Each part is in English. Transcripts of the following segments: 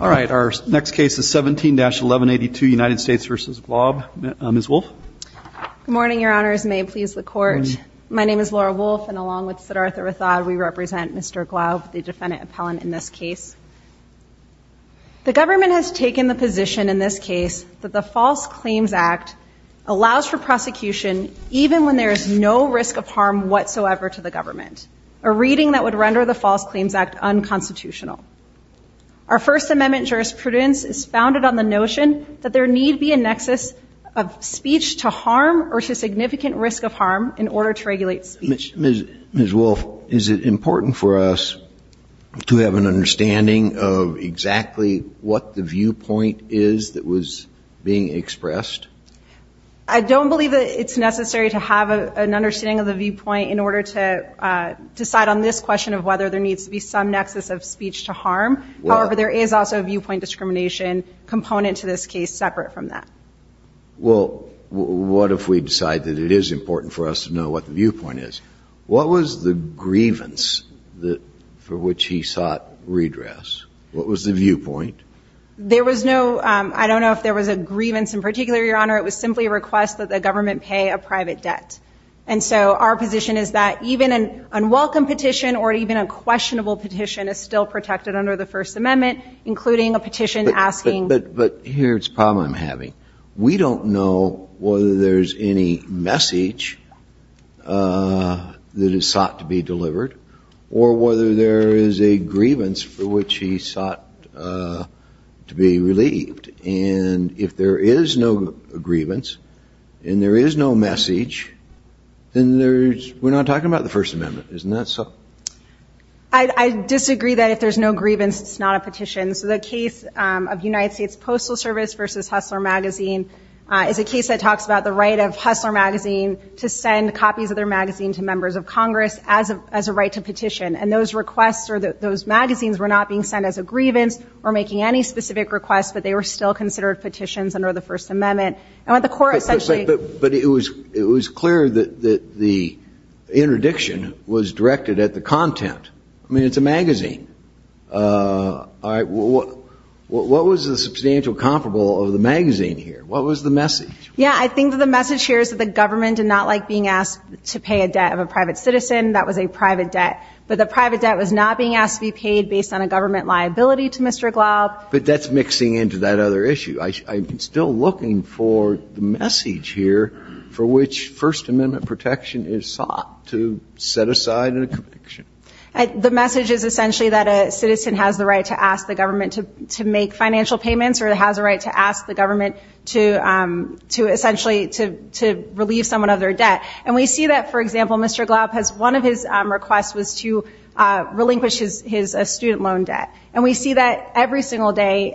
All right, our next case is 17-1182 United States v. Glaub, Ms. Wolfe. Good morning, Your Honors. May it please the Court. My name is Laura Wolfe, and along with Siddhartha Rathod, we represent Mr. Glaub, the defendant appellant in this case. The government has taken the position in this case that the False Claims Act allows for prosecution even when there is no risk of harm whatsoever to the government, a reading that would render the False Claims Act unconstitutional. Our First Amendment jurisprudence is founded on the notion that there need be a nexus of speech to harm or to significant risk of harm in order to regulate speech. Ms. Wolfe, is it important for us to have an understanding of exactly what the viewpoint is that was being expressed? I don't believe that it's necessary to have an understanding of the viewpoint in order to decide on this question of whether there needs to be some nexus of speech to harm. However, there is also a viewpoint discrimination component to this case separate from that. Well, what if we decide that it is important for us to know what the viewpoint is? What was the grievance for which he sought redress? What was the viewpoint? There was no – I don't know if there was a grievance in particular, Your Honor. It was simply a request that the government pay a private debt. And so our position is that even an unwelcome petition or even a questionable petition is still protected under the First Amendment, including a petition asking But here's the problem I'm having. We don't know whether there's any message that is sought to be delivered or whether there is a grievance for which he sought to be relieved. And if there is no grievance and there is no message, then there's – we're not talking about the First Amendment. Isn't that so? I disagree that if there's no grievance, it's not a petition. So the case of United States Postal Service versus Hustler Magazine is a case that talks about the right of Hustler Magazine to send copies of their magazine to members of Congress as a right to petition. And those requests or those magazines were not being sent as a grievance or making any specific requests, but they were still considered petitions under the First Amendment. And the court essentially – But it was clear that the interdiction was directed at the content. I mean, it's a magazine. What was the substantial comparable of the magazine here? What was the message? Yeah, I think that the message here is that the government did not like being asked to pay a debt of a private citizen. That was a private debt. But the private debt was not being asked to be paid based on a government liability to Mr. Glaub. But that's mixing into that other issue. I'm still looking for the message here for which First Amendment protection is sought to set aside in a conviction. The message is essentially that a citizen has the right to ask the government to make financial payments or has a right to ask the government to essentially to relieve someone of their debt. And we see that, for example, Mr. Glaub has – one of his requests was to relinquish his student loan debt. And we see that every single day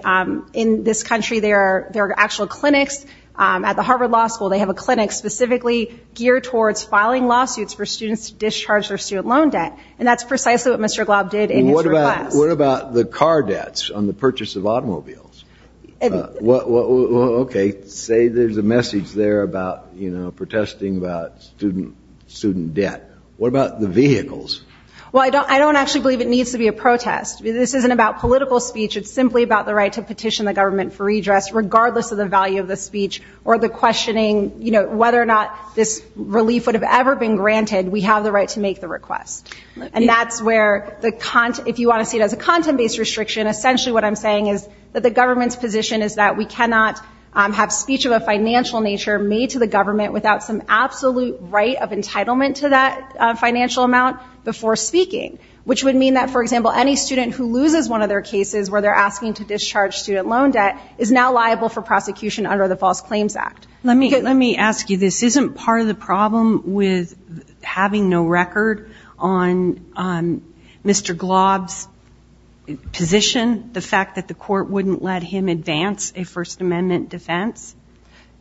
in this country. There are actual clinics at the Harvard Law School. They have a clinic specifically geared towards filing lawsuits for students to discharge their student loan debt. And that's precisely what Mr. Glaub did in his request. What about the car debts on the purchase of automobiles? Okay, say there's a message there about protesting about student debt. What about the vehicles? Well, I don't actually believe it needs to be a protest. This isn't about political speech. It's simply about the right to petition the government for redress, regardless of the value of the speech or the questioning, you know, whether or not this relief would have ever been granted. We have the right to make the request. And that's where the – if you want to see it as a content-based restriction, essentially what I'm saying is that the government's position is that we cannot have speech of a financial nature made to the government without some absolute right of entitlement to that financial amount before speaking, which would mean that, for example, any student who loses one of their cases where they're asking to discharge student loan debt is now liable for prosecution under the False Claims Act. Let me ask you. This isn't part of the problem with having no record on Mr. Glaub's position, the fact that the court wouldn't let him advance a First Amendment defense?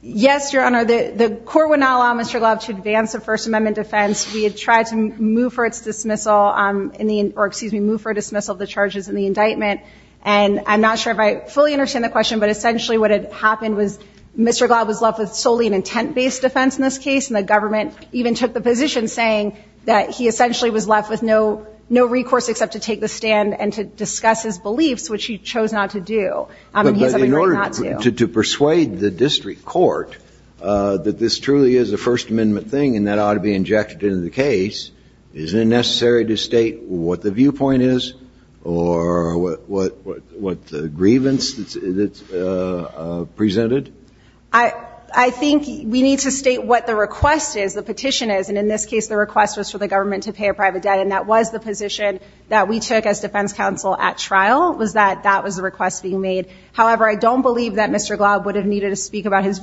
Yes, Your Honor. The court would not allow Mr. Glaub to advance a First Amendment defense. We had tried to move for its dismissal in the – or, excuse me, move for a dismissal of the charges in the indictment. And I'm not sure if I fully understand the question, but essentially what had happened was Mr. Glaub was left with solely an intent-based defense in this case, and the government even took the position saying that he essentially was left with no recourse except to take the stand and to discuss his beliefs, which he chose not to do. But in order to persuade the district court that this truly is a First Amendment thing and that ought to be injected into the case, is it necessary to state what the viewpoint is or what the grievance that's presented? I think we need to state what the request is, the petition is. And in this case the request was for the government to pay a private debt, and that was the position that we took as defense counsel at trial, was that that was the request being made. However, I don't believe that Mr. Glaub would have needed to speak about his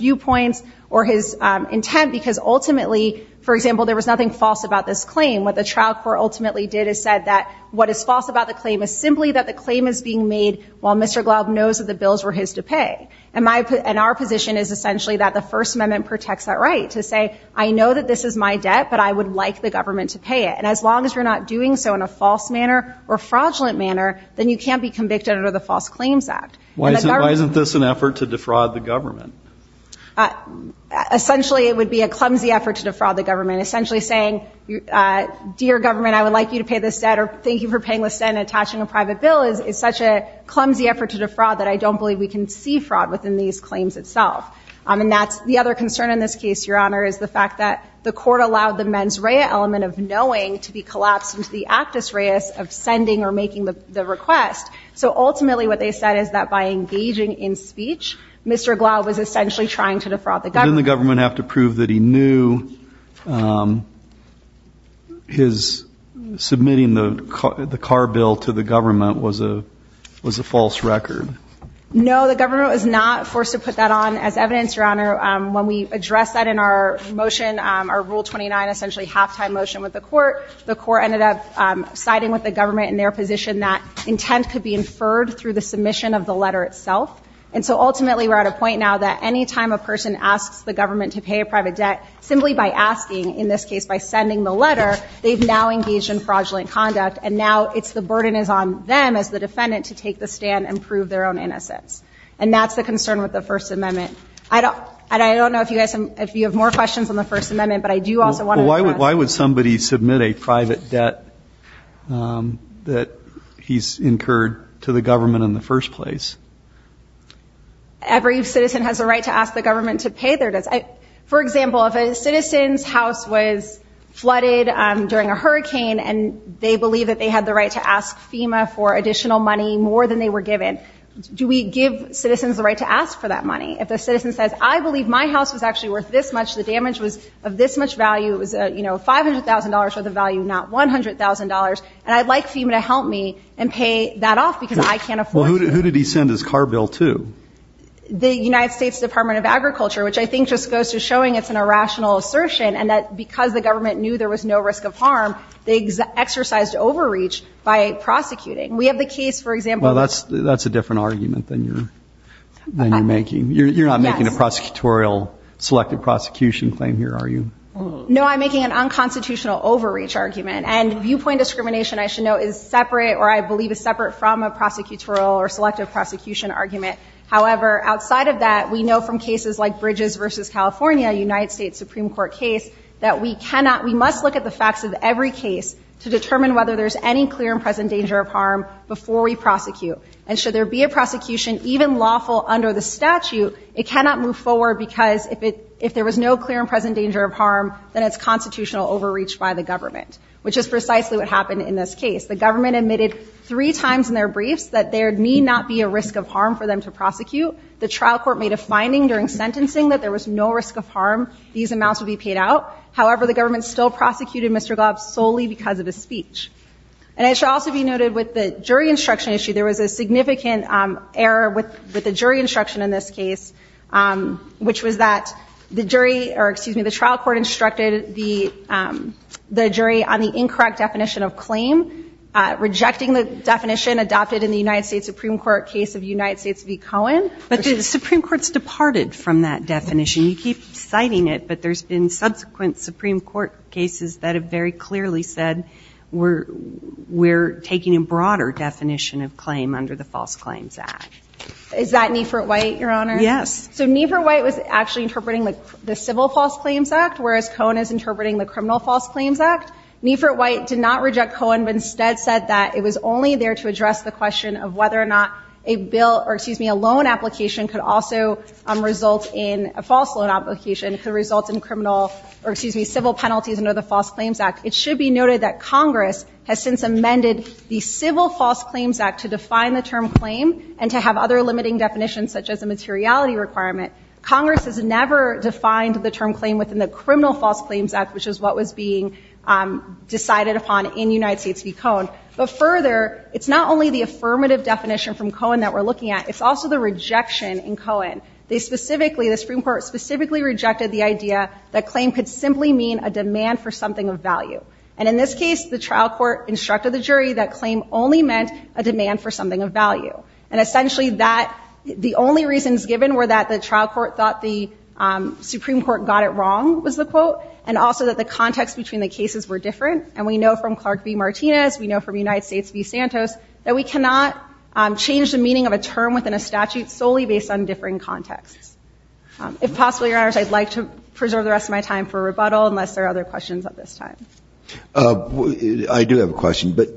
nothing false about this claim. What the trial court ultimately did is said that what is false about the claim is simply that the claim is being made while Mr. Glaub knows that the bills were his to pay. And our position is essentially that the First Amendment protects that right, to say, I know that this is my debt, but I would like the government to pay it. And as long as you're not doing so in a false manner or fraudulent manner, then you can't be convicted under the False Claims Act. Why isn't this an effort to defraud the government? Essentially it would be a clumsy effort to defraud the government. Essentially saying, dear government, I would like you to pay this debt, or thank you for paying this debt and attaching a private bill is such a clumsy effort to defraud that I don't believe we can see fraud within these claims itself. And that's the other concern in this case, Your Honor, is the fact that the court allowed the mens rea element of knowing to be collapsed into the actus reus of sending or making the request. So ultimately what they said is that by engaging in speech, Mr. Glaub was essentially trying to defraud the government. Didn't the government have to prove that he knew his submitting the car bill to the government was a false record? No, the government was not forced to put that on as evidence, Your Honor. When we addressed that in our motion, our Rule 29, essentially halftime motion with the court, the court ended up siding with the government in their position that intent could be inferred through the submission of the letter itself. And so ultimately we're at a point now that any time a person asks the government to pay a private debt, simply by asking, in this case by sending the letter, they've now engaged in fraudulent conduct, and now it's the burden is on them as the defendant to take the stand and prove their own innocence. And that's the concern with the First Amendment. And I don't know if you have more questions on the First Amendment, but I do also want to ask. Well, why would somebody submit a private debt that he's incurred to the government in the first place? Every citizen has a right to ask the government to pay their debts. For example, if a citizen's house was flooded during a hurricane and they believe that they had the right to ask FEMA for additional money, more than they were given, do we give citizens the right to ask for that money? If the citizen says, I believe my house was actually worth this much, the damage was of this much value, it was, you know, $500,000 worth of value, not $100,000, and I'd like FEMA to help me and pay that off because I can't afford it. Well, who did he send his car bill to? The United States Department of Agriculture, which I think just goes to showing it's an irrational assertion and that because the government knew there was no risk of harm, they exercised overreach by prosecuting. We have the case, for example. Well, that's a different argument than you're making. You're not making a prosecutorial selected prosecution claim here, are you? No, I'm making an unconstitutional overreach argument. And viewpoint discrimination, I should note, is separate from a prosecutorial or selective prosecution argument. However, outside of that, we know from cases like Bridges v. California, a United States Supreme Court case, that we cannot, we must look at the facts of every case to determine whether there's any clear and present danger of harm before we prosecute. And should there be a prosecution, even lawful under the statute, it cannot move forward because if there was no clear and present danger of harm, then it's constitutional overreach by the government, which is precisely what happened in this case. The government admitted three times in their briefs that there need not be a risk of harm for them to prosecute. The trial court made a finding during sentencing that there was no risk of harm. These amounts would be paid out. However, the government still prosecuted Mr. Glob solely because of his speech. And it should also be noted with the jury instruction issue, there was a significant error with the jury instruction in this case, which was that the jury, or excuse me, the trial court instructed the jury on the incorrect definition of claim, rejecting the definition adopted in the United States Supreme Court case of United States v. Cohen. But the Supreme Court's departed from that definition. You keep citing it, but there's been subsequent Supreme Court cases that have very clearly said we're taking a broader definition of claim under the False Claims Act. Is that Niefert-White, Your Honor? Yes. So Niefert-White was actually interpreting the Civil False Claims Act, whereas Cohen is interpreting the Criminal False Claims Act. Niefert-White did not reject Cohen, but instead said that it was only there to address the question of whether or not a bill, or excuse me, a loan application could also result in, a false loan application could result in criminal, or excuse me, civil penalties under the False Claims Act. It should be noted that Congress has since amended the Civil False Claims Act to define the term claim and to have other limiting definitions, such as a materiality requirement. Congress has never defined the term claim within the Criminal False Claims Act, which is what was being decided upon in United States v. Cohen. But further, it's not only the affirmative definition from Cohen that we're looking at, it's also the rejection in Cohen. They specifically, the Supreme Court specifically rejected the idea that claim could simply mean a demand for something of value. And in this case, the trial court instructed the jury that claim only meant a demand for something of value. And essentially that, the only reasons given were that the trial court thought the Supreme Court got it wrong, was the quote, and also that the context between the cases were different. And we know from Clark v. Martinez, we know from United States v. Santos, that we cannot change the meaning of a term within a statute solely based on differing contexts. If possible, Your Honors, I'd like to preserve the rest of my time for rebuttal unless there are other questions at this time. I do have a question. But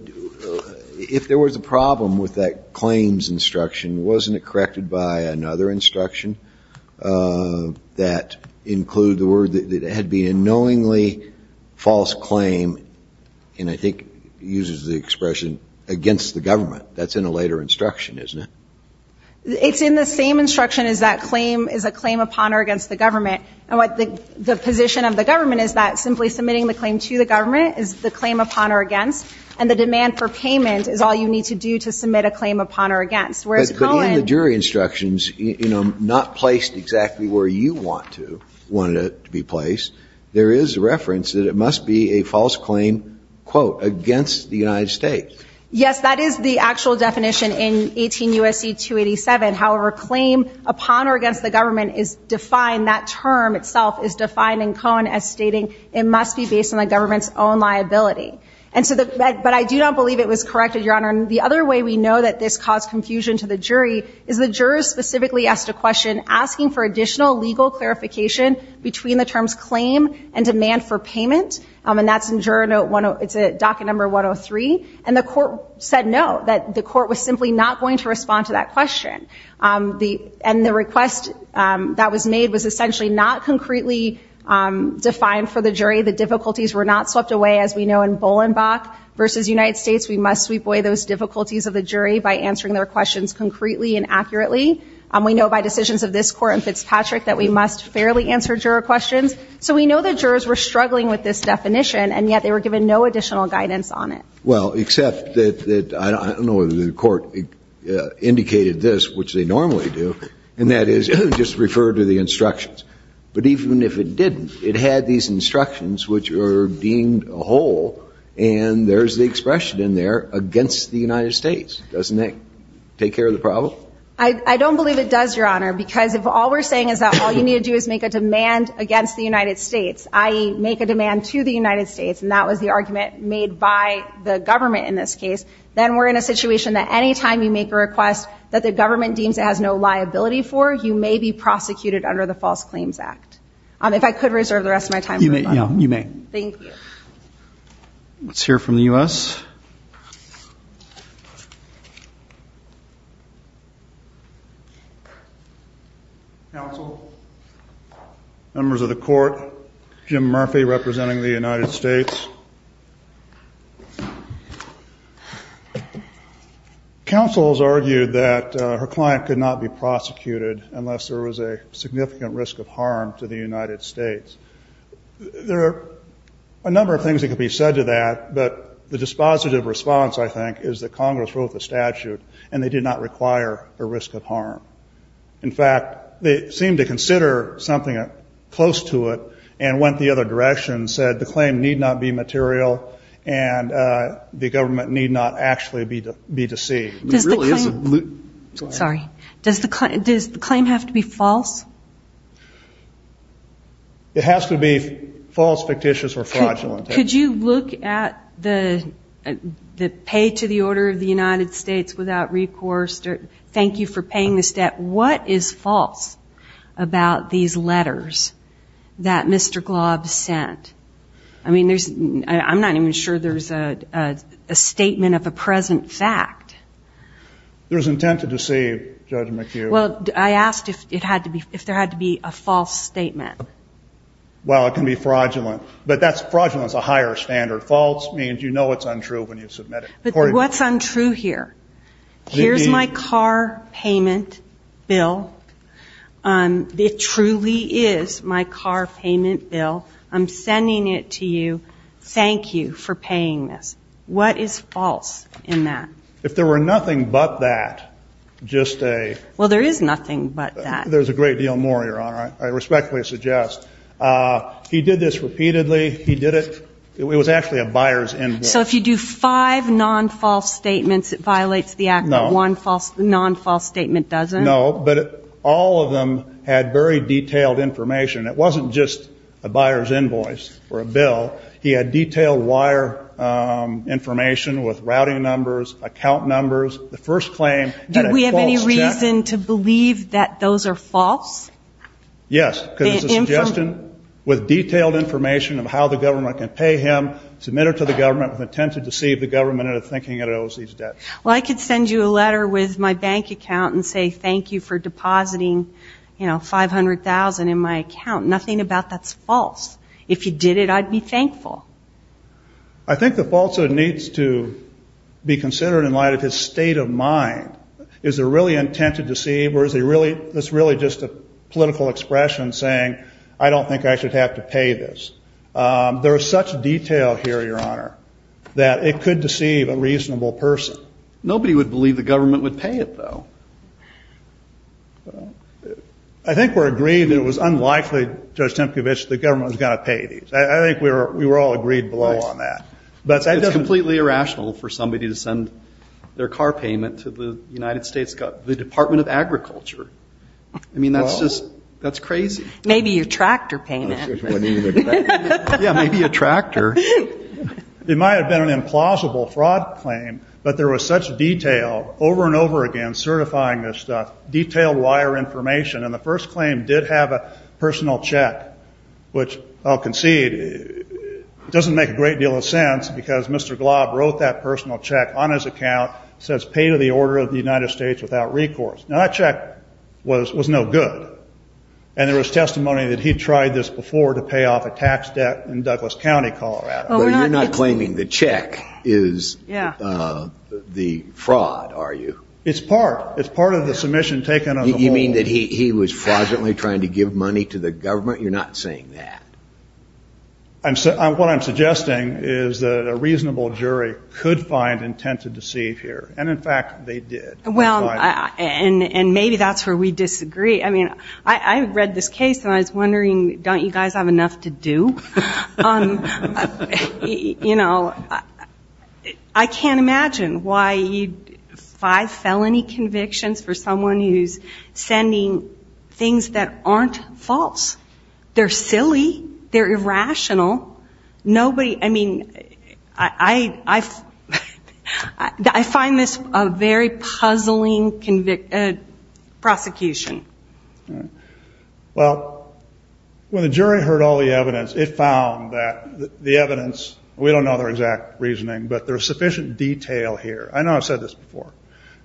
if there was a problem with that claims instruction, wasn't it corrected by another instruction that included the word that had been a knowingly false claim, and I think uses the expression, against the government? That's in a later instruction, isn't it? It's in the same instruction as that claim is a claim upon or against the government. And the position of the government is that simply submitting the claim to the government is the claim upon or against, and the demand for payment is all you need to do to submit a claim upon or against. But in the jury instructions, not placed exactly where you want it to be placed, there is reference that it must be a false claim, quote, against the United States. Yes, that is the actual definition in 18 U.S.C. 287. However, claim upon or against the government is defined, that term itself is defined in Cohen as stating it must be based on the government's own liability. But I do not believe it was corrected, Your Honor. And the other way we know that this caused confusion to the jury is the jurors specifically asked a question asking for additional legal clarification between the terms claim and demand for payment. And that's in document number 103. And the court said no, that the court was simply not going to respond to that question. And the request that was made was essentially not concretely defined for the jury. The difficulties were not swept away, as we know in Bolenbach versus United States. We must sweep away those difficulties of the jury by answering their questions concretely and accurately. We know by decisions of this court in Fitzpatrick that we must fairly answer juror questions. So we know the jurors were struggling with this definition, and yet they were given no additional guidance on it. Well, except that I don't know whether the court indicated this, which they normally do, and that is just refer to the instructions. But even if it didn't, it had these instructions which were deemed a whole, and there's the expression in there, against the United States. Doesn't that take care of the problem? I don't believe it does, Your Honor, because if all we're saying is that all you need to do is make a demand against the United States, i.e., make a demand to the government in this case, then we're in a situation that any time you make a request that the government deems it has no liability for, you may be prosecuted under the False Claims Act. If I could reserve the rest of my time for that. You may. Thank you. Let's hear from the U.S. Counsel, members of the court, Jim Murphy representing the United States. Counsel has argued that her client could not be prosecuted unless there was a significant risk of harm to the United States. There are a number of things that could be said to that, but the dispositive response, I think, is that Congress wrote the statute and they did not require a risk of harm. In fact, they seemed to consider something close to it and went the other direction and said the claim need not be material and the government need not actually be deceived. Does the claim have to be false? It has to be false, fictitious, or fraudulent. Could you look at the pay to the order of the United States without recourse? Thank you for paying this debt. What is false about these letters that Mr. Glob sent? I mean, I'm not even sure there's a statement of a present fact. There's intent to deceive, Judge McHugh. Well, I asked if there had to be a false statement. Well, it can be fraudulent. But fraudulent is a higher standard. False means you know it's untrue when you submit it. But what's untrue here? Here's my car payment bill. It truly is my car payment bill. I'm sending it to you. Thank you for paying this. What is false in that? If there were nothing but that, just a ---- Well, there is nothing but that. There's a great deal more, Your Honor. I respectfully suggest. He did this repeatedly. He did it. It was actually a buyer's invoice. So if you do five non-false statements, it violates the Act? No. One non-false statement doesn't? No. But all of them had very detailed information. It wasn't just a buyer's invoice or a bill. He had detailed wire information with routing numbers, account numbers. The first claim had a false check. Do we have any reason to believe that those are false? Yes. Because it's a suggestion with detailed information of how the government can pay him, submit it to the government with intent to deceive the government into thinking it owes these debts. Well, I could send you a letter with my bank account and say thank you for depositing, you know, $500,000 in my account. Nothing about that's false. If you did it, I'd be thankful. I think the falsehood needs to be considered in light of his state of mind. Is it really intent to deceive, or is it really just a political expression saying, I don't think I should have to pay this? There is such detail here, Your Honor, that it could deceive a reasonable person. Nobody would believe the government would pay it, though. I think we're agreeing that it was unlikely, Judge Tempkowitz, that the government was going to pay these. I think we were all agreed below on that. It's completely irrational for somebody to send their car payment to the United States Department of Agriculture. I mean, that's just crazy. Maybe a tractor payment. Yeah, maybe a tractor. It might have been an implausible fraud claim, but there was such detail over and over again certifying this stuff, detailed wire information, and the first claim did have a personal check, which, I'll concede, doesn't make a great deal of sense because Mr. Glob wrote that personal check on his account. It says, pay to the order of the United States without recourse. Now, that check was no good, and there was testimony that he'd tried this before to pay off a tax debt in Douglas County, Colorado. Well, you're not claiming the check is the fraud, are you? It's part. It's part of the submission taken on the whole. You mean that he was fraudulently trying to give money to the government? You're not saying that. What I'm suggesting is that a reasonable jury could find intent to deceive here, and, in fact, they did. Well, and maybe that's where we disagree. I read this case, and I was wondering, don't you guys have enough to do? I can't imagine why you'd file felony convictions for someone who's sending things that aren't false. They're silly. They're irrational. I mean, I find this a very puzzling prosecution. Well, when the jury heard all the evidence, it found that the evidence, we don't know their exact reasoning, but there's sufficient detail here. I know I've said this before.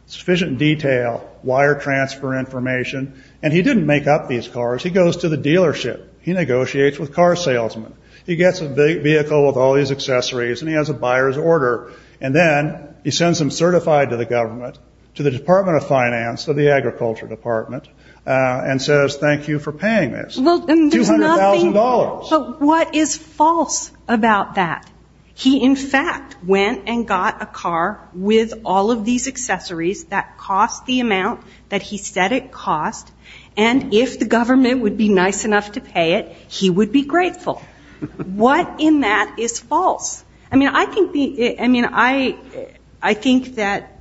Sufficient detail, wire transfer information, and he didn't make up these cars. He goes to the dealership. He negotiates with car salesmen. He gets a vehicle with all these accessories, and he has a buyer's order, and then he sends them certified to the government, to the Department of Finance, to the Agriculture Department, and says, thank you for paying this, $200,000. But what is false about that? He, in fact, went and got a car with all of these accessories that cost the amount that he said it cost, and if the government would be nice enough to pay it, he would be grateful. What in that is false? I mean, I think that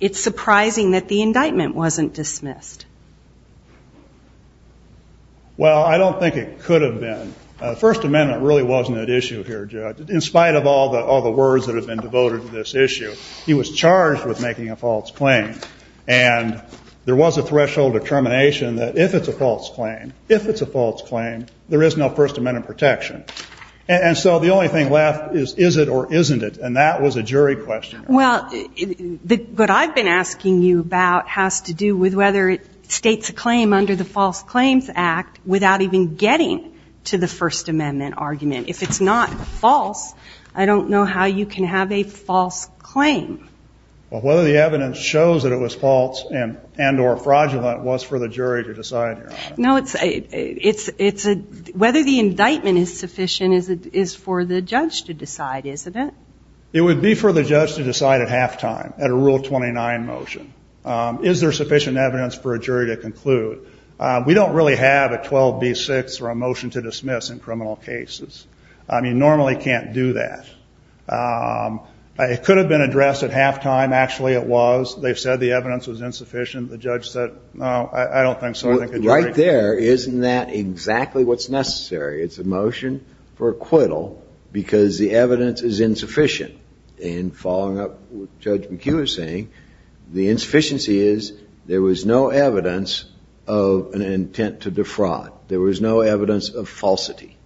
it's surprising that the indictment wasn't dismissed. Well, I don't think it could have been. The First Amendment really wasn't at issue here, Judge. In spite of all the words that have been devoted to this issue, he was charged with making a false claim, and there was a threshold of termination that if it's a false claim, if it's a false claim, there is no First Amendment protection. And so the only thing left is is it or isn't it, and that was a jury question. Well, what I've been asking you about has to do with whether it states a claim under the False Claims Act without even getting to the First Amendment argument. If it's not false, I don't know how you can have a false claim. Well, whether the evidence shows that it was false and or fraudulent was for the jury to decide here on that. No, it's whether the indictment is sufficient is for the judge to decide, isn't it? It would be for the judge to decide at halftime at a Rule 29 motion. Is there sufficient evidence for a jury to conclude? We don't really have a 12B6 or a motion to dismiss in criminal cases. You normally can't do that. It could have been addressed at halftime. Actually, it was. They said the evidence was insufficient. The judge said, no, I don't think so. Right there, isn't that exactly what's necessary? It's a motion for acquittal because the evidence is insufficient. And following up what Judge McHugh was saying, the insufficiency is there was no evidence of an intent to defraud. There was no evidence of falsity.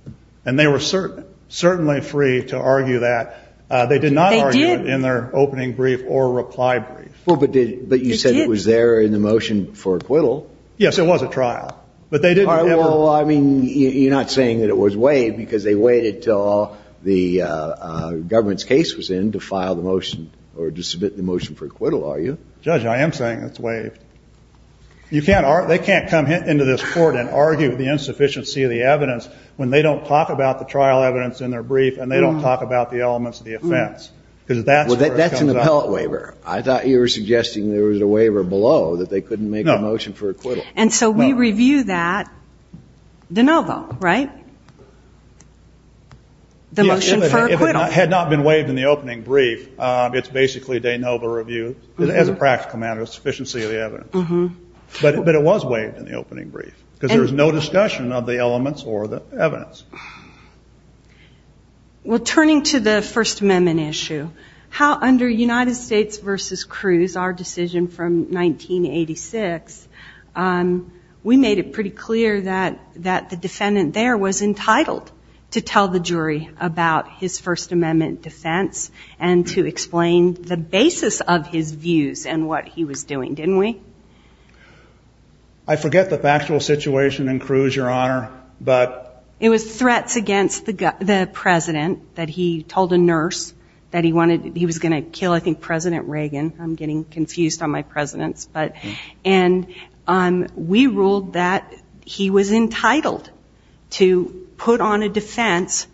And they were certainly free to argue that. They did not argue it in their opening brief or reply brief. Well, but you said it was there in the motion for acquittal. Yes, it was a trial. Well, I mean, you're not saying that it was waived because they waited until the government's case was in to file the motion or to submit the motion for acquittal, are you? Judge, I am saying it's waived. They can't come into this Court and argue the insufficiency of the evidence when they don't talk about the trial evidence in their brief and they don't talk about the elements of the offense. Because that's where it comes up. Well, that's an appellate waiver. I thought you were suggesting there was a waiver below that they couldn't make a motion for acquittal. No. And so we review that de novo, right? The motion for acquittal. If it had not been waived in the opening brief, it's basically de novo review as a practical matter, insufficiency of the evidence. But it was waived in the opening brief because there was no discussion of the elements or the evidence. Well, turning to the First Amendment issue, how under United States v. Cruz, our decision from 1986, we made it pretty clear that the defendant there was entitled to tell the jury about his First Amendment defense and to explain the basis of his views and what he was doing, didn't we? I forget the factual situation in Cruz, Your Honor. It was threats against the President that he told a nurse that he was going to kill, I think, President Reagan. I'm getting confused on my Presidents. And we ruled that he was entitled to put on a defense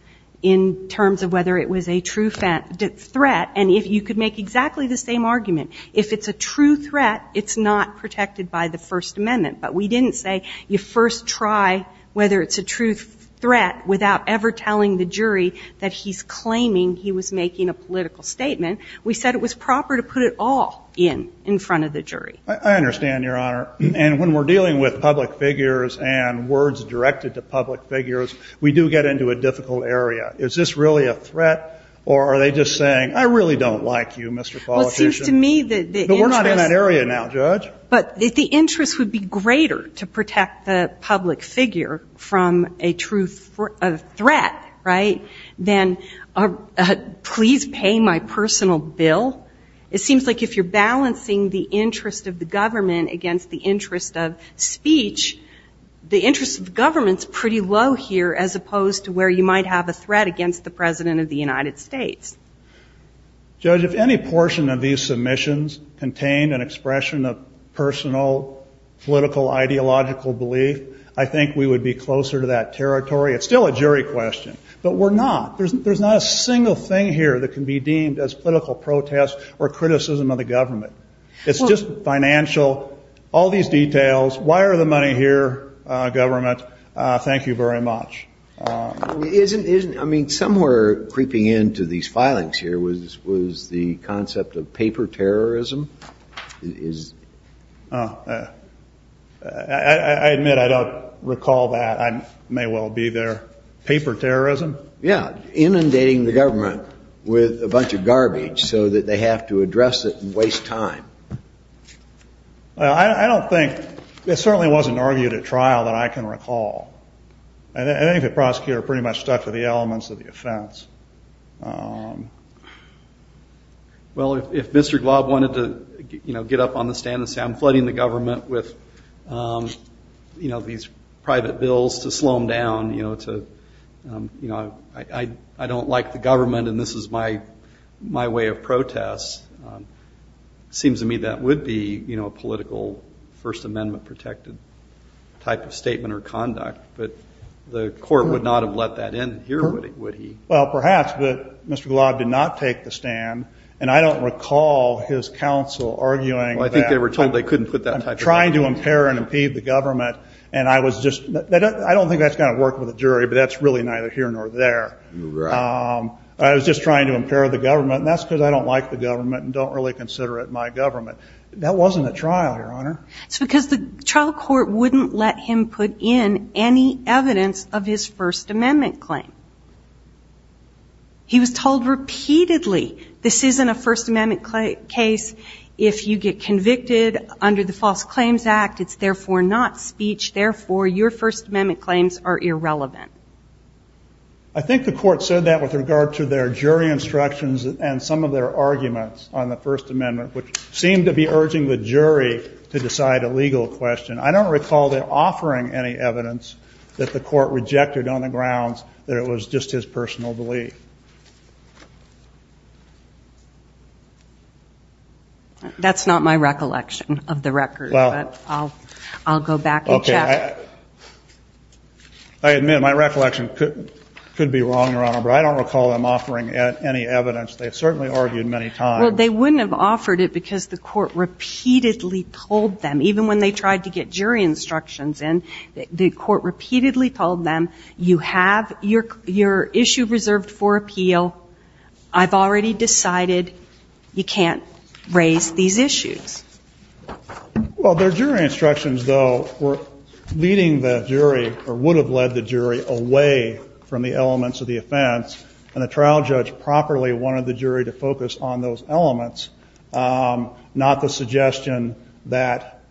in terms of whether it was a true threat. And you could make exactly the same argument. If it's a true threat, it's not protected by the First Amendment. But we didn't say you first try whether it's a true threat without ever telling the jury that he's claiming he was making a political statement. We said it was proper to put it all in in front of the jury. I understand, Your Honor. And when we're dealing with public figures and words directed to public figures, we do get into a difficult area. Is this really a threat or are they just saying, I really don't like you, Mr. Politician? Well, it seems to me that the interest But we're not in that area now, Judge. But the interest would be greater to protect the public figure from a true threat, right, than please pay my personal bill. It seems like if you're balancing the interest of the government against the interest of speech, the interest of government is pretty low here as opposed to where you might have a threat against the President of the United States. Judge, if any portion of these submissions contained an expression of personal political ideological belief, I think we would be closer to that territory. It's still a jury question. But we're not. There's not a single thing here that can be deemed as political protest or criticism of the government. It's just financial. All these details. Why are the money here, government? Thank you very much. I mean, somewhere creeping into these filings here was the concept of paper terrorism. I admit I don't recall that. I may well be there. Paper terrorism? Yeah. Inundating the government with a bunch of garbage so that they have to address it and waste time. I don't think. It certainly wasn't argued at trial that I can recall. I think the prosecutor pretty much stuck to the elements of the offense. Well, if Mr. Glob wanted to get up on the stand and say, I'm flooding the government with these private bills to slow them down, I don't like the government and this is my way of protest, it seems to me that would be a political First Amendment protected type of statement or conduct. But the court would not have let that in here, would he? Well, perhaps. But Mr. Glob did not take the stand. And I don't recall his counsel arguing that. Well, I think they were told they couldn't put that type of statement. I'm trying to impair and impede the government. And I don't think that's going to work with a jury. I was just trying to impair the government. And that's because I don't like the government and don't really consider it my government. That wasn't at trial, Your Honor. It's because the trial court wouldn't let him put in any evidence of his First Amendment claim. He was told repeatedly, this isn't a First Amendment case. If you get convicted under the False Claims Act, it's therefore not speech. Therefore, your First Amendment claims are irrelevant. I think the court said that with regard to their jury instructions and some of their arguments on the First Amendment, which seemed to be urging the jury to decide a legal question. I don't recall them offering any evidence that the court rejected on the grounds that it was just his personal belief. That's not my recollection of the record. But I'll go back and check. I admit my recollection could be wrong, Your Honor. But I don't recall them offering any evidence. They certainly argued many times. Well, they wouldn't have offered it because the court repeatedly told them, even when they tried to get jury instructions in, the court repeatedly told them, you have your issue reserved for appeal. I've already decided you can't raise these issues. Well, their jury instructions, though, were leading the jury or would have led the jury away from the elements of the offense. And the trial judge properly wanted the jury to focus on those elements, not the suggestion that,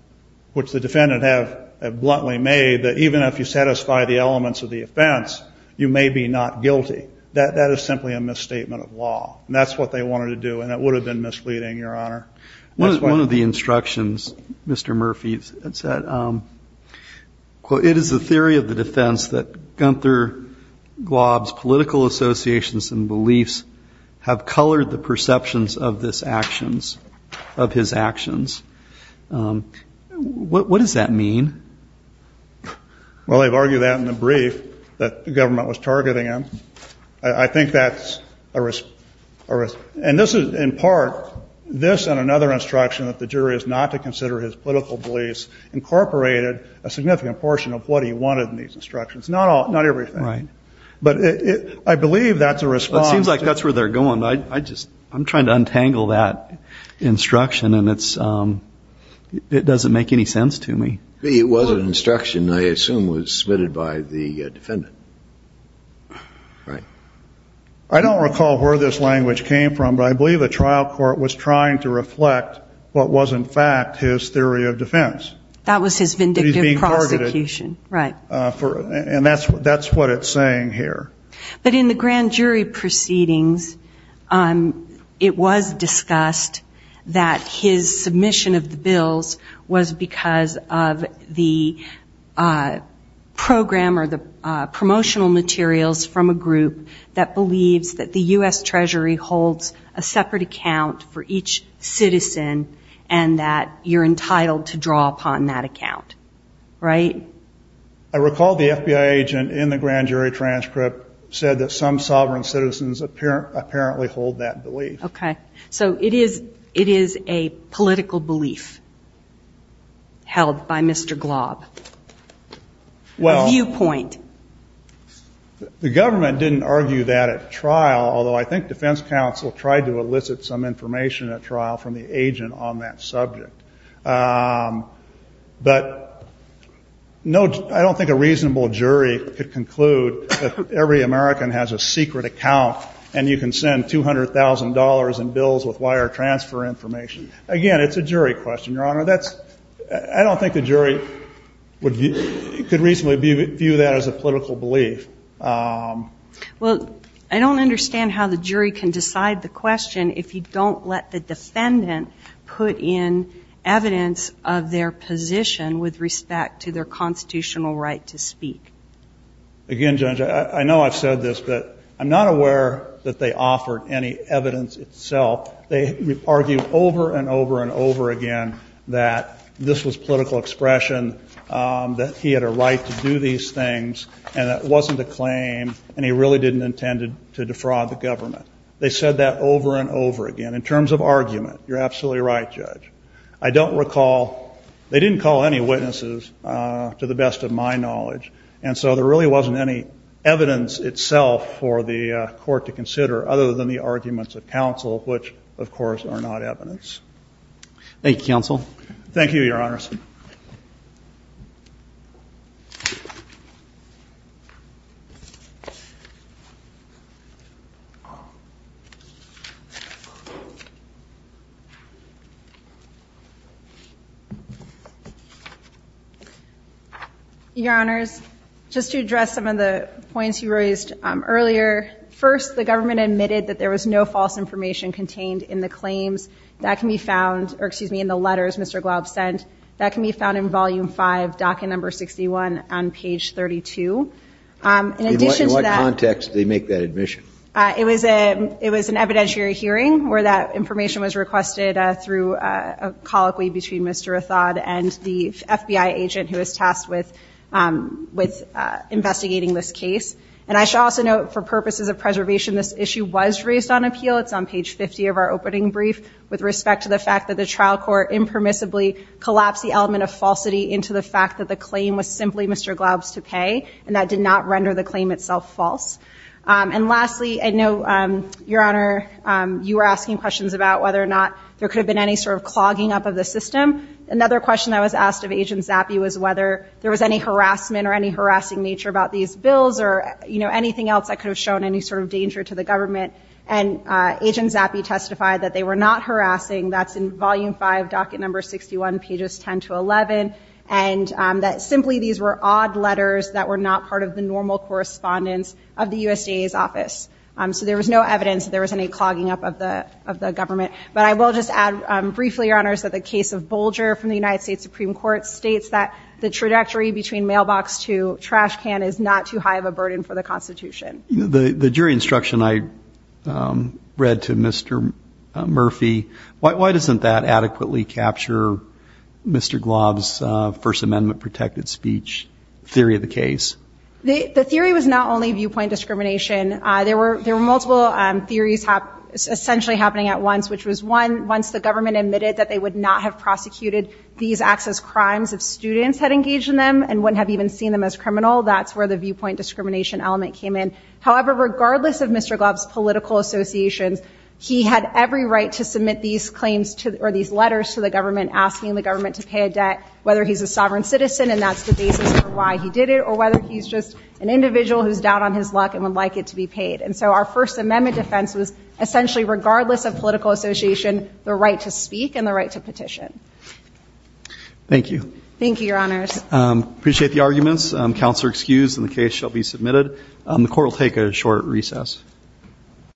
which the defendant had bluntly made, that even if you satisfy the elements of the offense, you may be not guilty. That is simply a misstatement of law. And that's what they wanted to do. And it would have been misleading, Your Honor. One of the instructions Mr. Murphy had said, quote, it is the theory of the defense that Gunther Glob's political associations and beliefs have colored the perceptions of this actions, of his actions. What does that mean? Well, they've argued that in the brief that the government was targeting him. I think that's a response. And this is in part, this and another instruction that the jury is not to consider his political beliefs incorporated a significant portion of what he wanted in these instructions. Not everything. Right. But I believe that's a response. It seems like that's where they're going. I'm trying to untangle that instruction, and it doesn't make any sense to me. It was an instruction, I assume, was submitted by the defendant. Right. I don't recall where this language came from, but I believe the trial court was trying to reflect what was, in fact, his theory of defense. That was his vindictive prosecution. He's being targeted. Right. And that's what it's saying here. But in the grand jury proceedings, it was discussed that his submission of the bills was because of the program or the promotional materials from a group that believes that the U.S. Treasury holds a separate account for each citizen, and that you're entitled to draw upon that account. Right. I recall the FBI agent in the grand jury transcript said that some sovereign citizens apparently hold that belief. Okay. So it is a political belief held by Mr. Glob, a viewpoint. Well, the government didn't argue that at trial, although I think defense counsel tried to elicit some information at trial from the agent on that subject. But I don't think a reasonable jury could conclude that every American has a secret account and you can send $200,000 in bills with wire transfer information. Again, it's a jury question, Your Honor. I don't think the jury could reasonably view that as a political belief. Well, I don't understand how the jury can decide the question if you don't let the defendant put in evidence of their position with respect to their constitutional right to speak. Again, Judge, I know I've said this, but I'm not aware that they offered any evidence itself. They argued over and over and over again that this was political expression, that he had a right to do these things, and it wasn't a claim, and he really didn't intend to defraud the government. They said that over and over again. In terms of argument, you're absolutely right, Judge. I don't recall they didn't call any witnesses, to the best of my knowledge, and so there really wasn't any evidence itself for the court to consider other than the arguments of counsel, which, of course, are not evidence. Thank you, counsel. Thank you, Your Honors. Your Honors, just to address some of the points you raised earlier, first, the government admitted that there was no false information contained in the claims. That can be found or, excuse me, in the letters Mr. Glaub sent. That can be found in Volume 5, docket number 61 on page 32. In addition to that In what context did they make that admission? It was an evidentiary hearing, where that information was requested through a colloquy between Mr. Rathod and the FBI agent who was tasked with investigating this case. And I should also note, for purposes of preservation, this issue was raised on appeal. It's on page 50 of our opening brief, with respect to the fact that the trial court impermissibly collapsed the element of falsity into the fact that the claim was simply Mr. Glaub's to pay, and that did not render the claim itself false. And lastly, I know, Your Honor, you were asking questions about whether or not there could have been any sort of clogging up of the system. Another question that was asked of Agent Zappi was whether there was any harassment or any harassing nature about these bills or, you know, anything else that could have shown any sort of danger to the government. And Agent Zappi testified that they were not harassing. That's in Volume 5, docket number 61, pages 10 to 11, and that simply these were odd letters that were not part of the normal correspondence of the USDA's office. So there was no evidence that there was any clogging up of the government. But I will just add briefly, Your Honors, that the case of Bolger from the United States Supreme Court states that the trajectory between mailbox to trash can is not too high of a burden for the Constitution. The jury instruction I read to Mr. Murphy, why doesn't that adequately capture Mr. Glaub's First Amendment protected speech theory of the case? The theory was not only viewpoint discrimination. There were multiple theories essentially happening at once, which was, one, once the government admitted that they would not have prosecuted these acts as crimes if students had engaged in them and wouldn't have even seen them as criminal, that's where the viewpoint discrimination element came in. However, regardless of Mr. Glaub's political associations, he had every right to submit these claims or these letters to the government, asking the government to pay a debt, whether he's a sovereign citizen, and that's the basis for why he did it, or whether he's just an individual who's down on his luck and would like it to be paid. And so our First Amendment defense was essentially, regardless of political association, the right to speak and the right to petition. Thank you. Thank you, Your Honors. Appreciate the arguments. Counsel are excused, and the case shall be submitted. The Court will take a short recess.